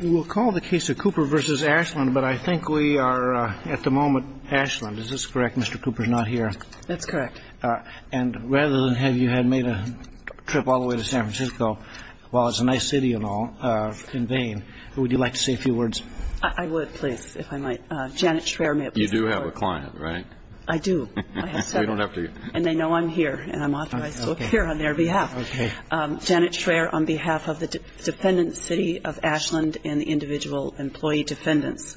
We'll call the case a Cooper v. Ashland, but I think we are, at the moment, Ashland. Is this correct, Mr. Cooper's not here? That's correct. And rather than have you had made a trip all the way to San Francisco, while it's a nice city and all, in vain, would you like to say a few words? I would, please, if I might. Janet Schreier may I please have the floor? You do have a client, right? I do. I have seven. You don't have to. And they know I'm here, and I'm authorized to appear on their behalf. Okay. Janet Schreier on behalf of the Defendant's City of Ashland and the individual employee defendants.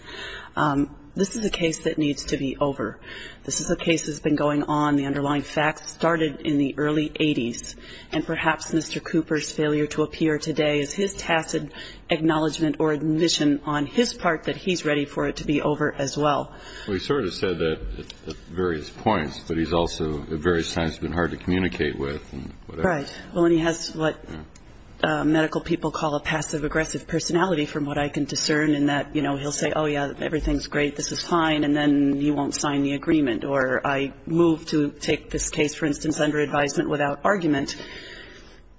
This is a case that needs to be over. This is a case that's been going on, the underlying facts started in the early 80s. And perhaps Mr. Cooper's failure to appear today is his tacit acknowledgment or admission on his part that he's ready for it to be over as well. Well, he sort of said that at various points, but he's also at various times been hard to communicate with and whatever. All right. Well, and he has what medical people call a passive-aggressive personality, from what I can discern, in that, you know, he'll say, oh, yeah, everything's great, this is fine, and then he won't sign the agreement. Or I move to take this case, for instance, under advisement without argument.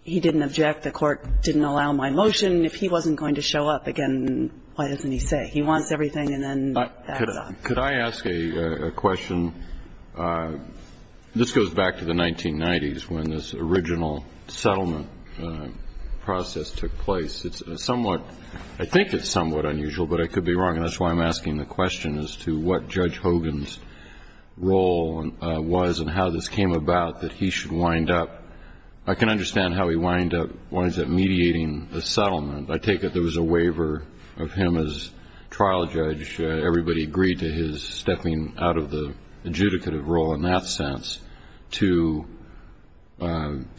He didn't object. The court didn't allow my motion. If he wasn't going to show up again, why doesn't he say? He wants everything, and then that's all. Could I ask a question? This goes back to the 1990s when this original settlement process took place. It's somewhat ‑‑ I think it's somewhat unusual, but I could be wrong, and that's why I'm asking the question, as to what Judge Hogan's role was and how this came about, that he should wind up ‑‑ I can understand how he winds up mediating the settlement. I take it there was a waiver of him as trial judge. Everybody agreed to his stepping out of the adjudicative role, in that sense, to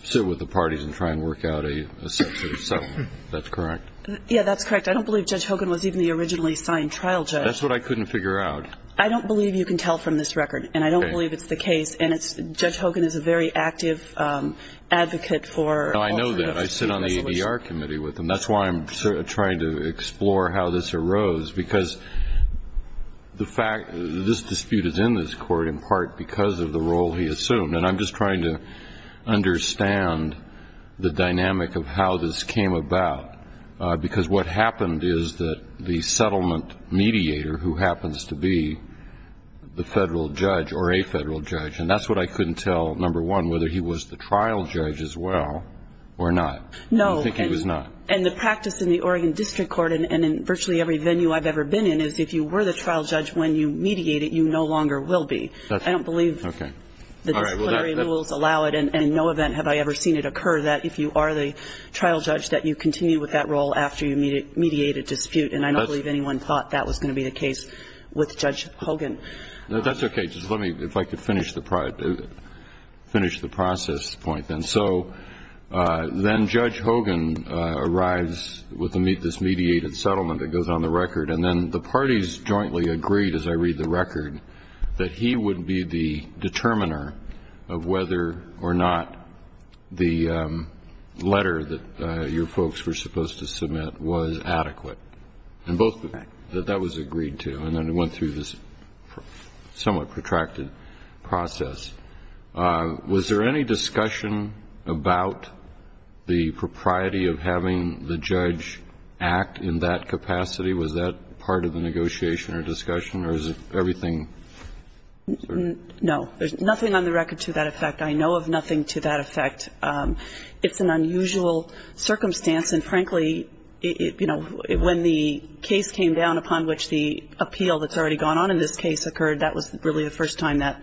sit with the parties and try and work out a sense of settlement. That's correct? Yeah, that's correct. I don't believe Judge Hogan was even the originally signed trial judge. That's what I couldn't figure out. I don't believe you can tell from this record, and I don't believe it's the case, and Judge Hogan is a very active advocate for ‑‑ I know that. I sit on the ADR committee with him. That's why I'm trying to explore how this arose, because this dispute is in this court in part because of the role he assumed, and I'm just trying to understand the dynamic of how this came about, because what happened is that the settlement mediator, who happens to be the federal judge or a federal judge, and that's what I couldn't tell, number one, whether he was the trial judge as well or not. No. I think he was not. And the practice in the Oregon District Court and in virtually every venue I've ever been in is if you were the trial judge when you mediate it, you no longer will be. I don't believe the disciplinary rules allow it, and in no event have I ever seen it occur that if you are the trial judge, that you continue with that role after you mediate a dispute, and I don't believe anyone thought that was going to be the case with Judge Hogan. That's okay. Just let me, if I could finish the process point then. So then Judge Hogan arrives with this mediated settlement that goes on the record, and then the parties jointly agreed, as I read the record, that he would be the determiner of whether or not the letter that your folks were supposed to submit was adequate, and both that that was agreed to, and then it went through this somewhat protracted process. Was there any discussion about the propriety of having the judge act in that capacity? Was that part of the negotiation or discussion, or is everything certain? No. There's nothing on the record to that effect. I know of nothing to that effect. It's an unusual circumstance, and frankly, you know, when the case came down upon which the appeal that's already gone on in this case occurred, that was really the first time that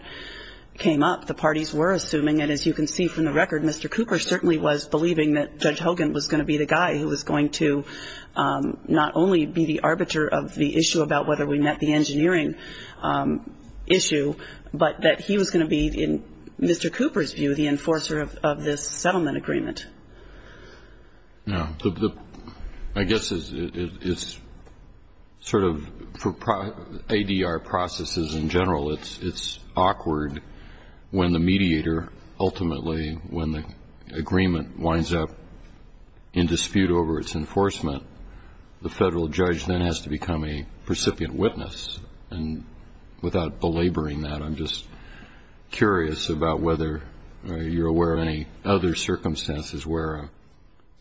came up. The parties were assuming, and as you can see from the record, Mr. Cooper certainly was believing that Judge Hogan was going to be the guy who was going to not only be the arbiter of the issue about whether we met the engineering issue, but that he was going to be, in Mr. Cooper's view, the enforcer of this settlement agreement. No. I guess it's sort of for ADR processes in general, it's awkward when the mediator ultimately, when the agreement winds up in dispute over its enforcement, the federal judge then has to become a recipient witness. And without belaboring that, I'm just curious about whether you're aware of any other circumstances where a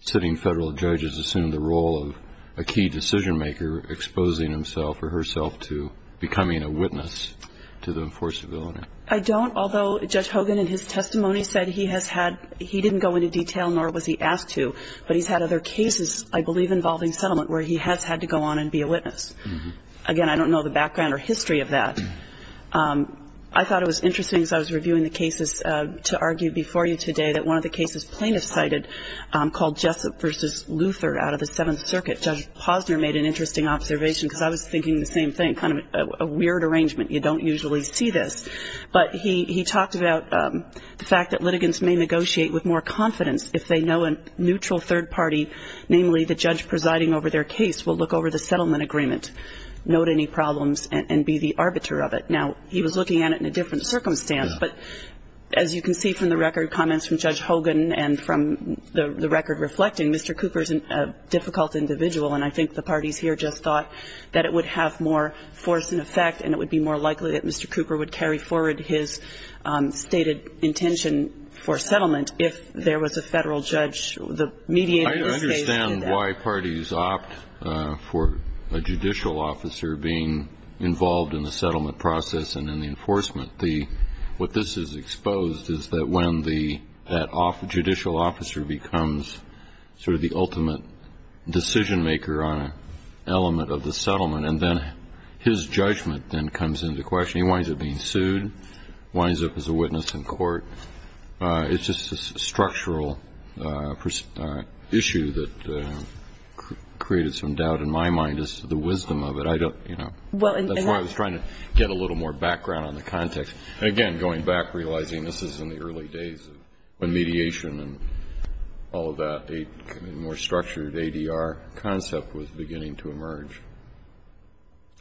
sitting federal judge has assumed the role of a key decision maker, exposing himself or herself to becoming a witness to the enforceability. I don't, although Judge Hogan in his testimony said he has had, he didn't go into detail, nor was he asked to, but he's had other cases, I believe involving settlement, where he has had to go on and be a witness. Again, I don't know the background or history of that. I thought it was interesting as I was reviewing the cases to argue before you today that one of the cases plaintiffs cited called Jessup v. Luther out of the Seventh Circuit, Judge Posner made an interesting observation, because I was thinking the same thing, kind of a weird arrangement, you don't usually see this. But he talked about the fact that litigants may negotiate with more confidence if they know a neutral third party, namely the judge presiding over their case, will look over the settlement agreement, note any problems, and be the arbiter of it. Now, he was looking at it in a different circumstance, but as you can see from the record, comments from Judge Hogan and from the record reflecting, Mr. Cooper is a difficult individual, and I think the parties here just thought that it would have more force and effect and it would be more likely that Mr. Cooper would carry forward his stated intention for settlement if there was a federal judge mediating his case. I understand why parties opt for a judicial officer being involved in the settlement process and in the enforcement. What this has exposed is that when that judicial officer becomes sort of the ultimate decision maker on an element of the settlement and then his judgment then comes into question, he winds up being sued, winds up as a witness in court. It's just a structural issue that created some doubt in my mind as to the wisdom of it. I don't, you know, that's why I was trying to get a little more background on the context. Again, going back, realizing this is in the early days of mediation and all of that, a more structured ADR concept was beginning to emerge.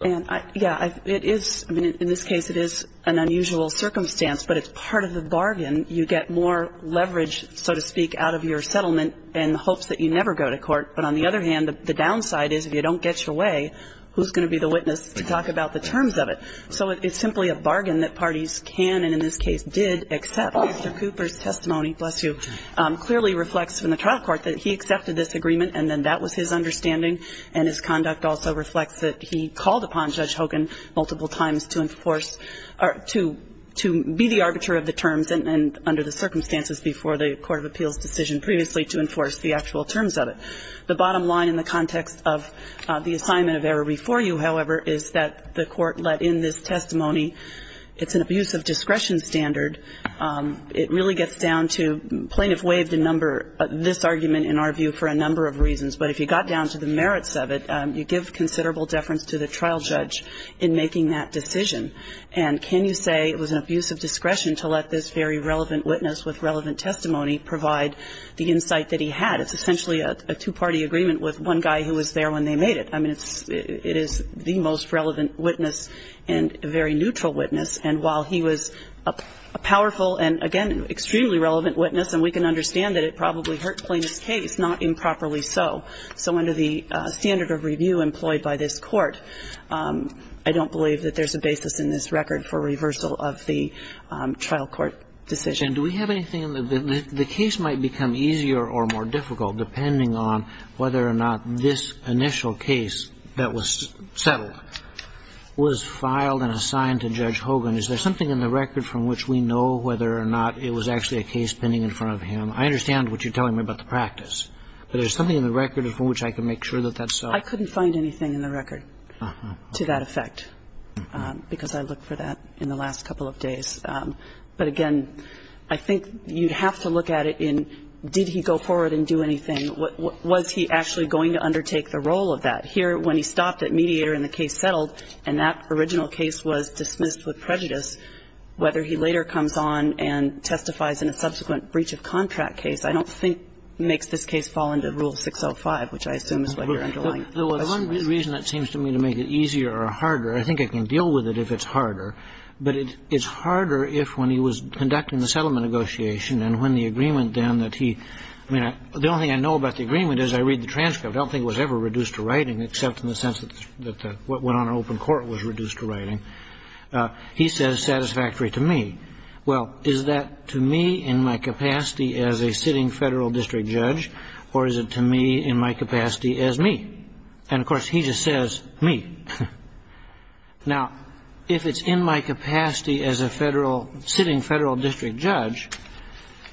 And, yeah, it is, I mean, in this case it is an unusual circumstance, but it's part of the bargain. You get more leverage, so to speak, out of your settlement in hopes that you never go to court. But on the other hand, the downside is if you don't get your way, who's going to be the witness to talk about the terms of it? So it's simply a bargain that parties can and in this case did accept. Mr. Cooper's testimony, bless you, clearly reflects in the trial court that he accepted this agreement and then that was his understanding. And his conduct also reflects that he called upon Judge Hogan multiple times to enforce or to be the arbiter of the terms and under the circumstances before the court of appeals decision previously to enforce the actual terms of it. The bottom line in the context of the assignment of error before you, however, is that the court let in this testimony. It's an abuse of discretion standard. It really gets down to plaintiff waived a number, this argument in our view, for a number of reasons. But if you got down to the merits of it, you give considerable deference to the trial judge in making that decision. And can you say it was an abuse of discretion to let this very relevant witness with relevant testimony provide the insight that he had? It's essentially a two-party agreement with one guy who was there when they made it. I mean, it is the most relevant witness and a very neutral witness. And while he was a powerful and, again, extremely relevant witness, and we can understand that it probably hurt Plaintiff's case, not improperly so. So under the standard of review employed by this court, I don't believe that there's a basis in this record for reversal of the trial court decision. Do we have anything in the case might become easier or more difficult depending on whether or not this initial case that was settled was filed and assigned to Judge Hogan? Is there something in the record from which we know whether or not it was actually a case pending in front of him? I understand what you're telling me about the practice, but is there something in the record from which I can make sure that that's so? I couldn't find anything in the record to that effect because I looked for that in the last couple of days. But, again, I think you have to look at it in did he go forward and do anything? Was he actually going to undertake the role of that? Here, when he stopped at mediator and the case settled and that original case was dismissed with prejudice, whether he later comes on and testifies in a subsequent breach of contract case, I don't think makes this case fall under Rule 605, which I assume is what you're underlying. The one reason that seems to me to make it easier or harder, I think I can deal with it if it's harder, but it's harder if when he was conducting the settlement negotiation and when the agreement then that he, I mean, the only thing I know about the agreement is I read the transcript. I don't think it was ever reduced to writing except in the sense that what went on in open court was reduced to writing. He says satisfactory to me. Well, is that to me in my capacity as a sitting federal district judge or is it to me in my capacity as me? And, of course, he just says me. Now, if it's in my capacity as a sitting federal district judge,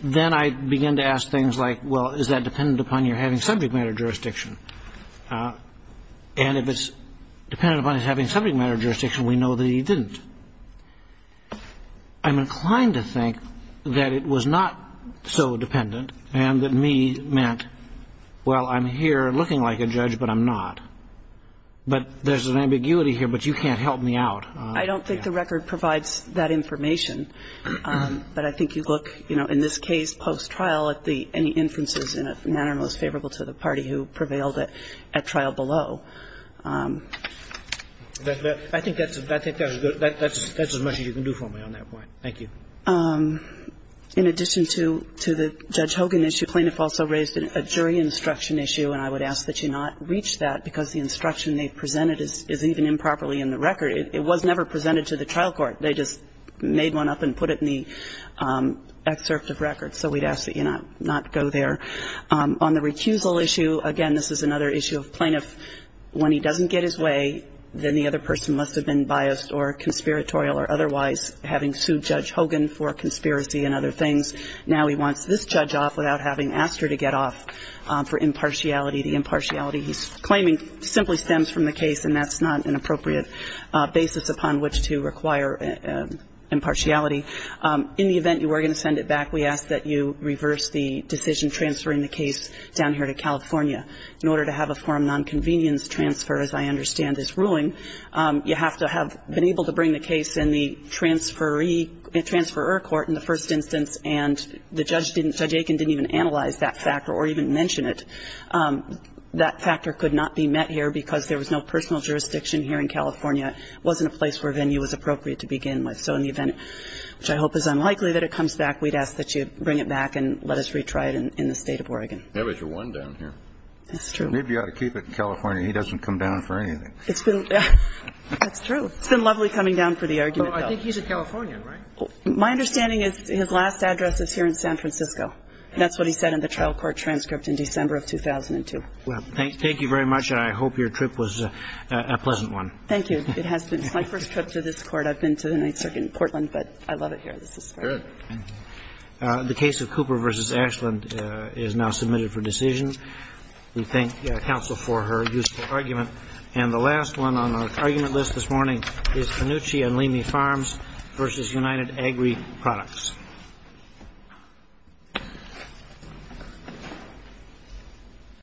then I begin to ask things like, well, is that dependent upon your having subject matter jurisdiction? And if it's dependent upon his having subject matter jurisdiction, we know that he didn't. I'm inclined to think that it was not so dependent and that me meant, well, I'm here looking like a judge, but I'm not. But there's an ambiguity here, but you can't help me out. I don't think the record provides that information, but I think you look, you know, in this case post-trial at any inferences in a manner most favorable to the party who prevailed at trial below. I think that's as much as you can do for me on that point. Thank you. In addition to the Judge Hogan issue, plaintiff also raised a jury instruction issue, and I would ask that you not reach that because the instruction they presented is even improperly in the record. It was never presented to the trial court. They just made one up and put it in the excerpt of record. So we'd ask that you not go there. On the recusal issue, again, this is another issue of plaintiff. When he doesn't get his way, then the other person must have been biased or conspiratorial or otherwise having sued Judge Hogan for conspiracy and other things. Now he wants this judge off without having asked her to get off for impartiality. The impartiality he's claiming simply stems from the case, and that's not an appropriate basis upon which to require impartiality. In the event you are going to send it back, we ask that you reverse the decision transferring the case down here to California. In order to have a form of nonconvenience transfer, as I understand this ruling, you have to have been able to bring the case in the transferee or transferor court in the first instance and the judge didn't, Judge Aiken didn't even analyze that factor or even mention it. That factor could not be met here because there was no personal jurisdiction here in California. It wasn't a place where venue was appropriate to begin with. So in the event, which I hope is unlikely, that it comes back, we'd ask that you bring it back and let us retry it in the State of Oregon. That was your one down here. That's true. Maybe you ought to keep it in California. He doesn't come down for anything. That's true. It's been lovely coming down for the argument, though. I think he's in California, right? My understanding is his last address is here in San Francisco. That's what he said in the trial court transcript in December of 2002. Thank you very much. I hope your trip was a pleasant one. Thank you. It has been. It's my first trip to this court. I've been to the Ninth Circuit in Portland, but I love it here. This is great. Good. The case of Cooper v. Ashland is now submitted for decision. We thank counsel for her useful argument. And the last one on our argument list this morning is Panucci and Leamy Farms v. United Agri Products.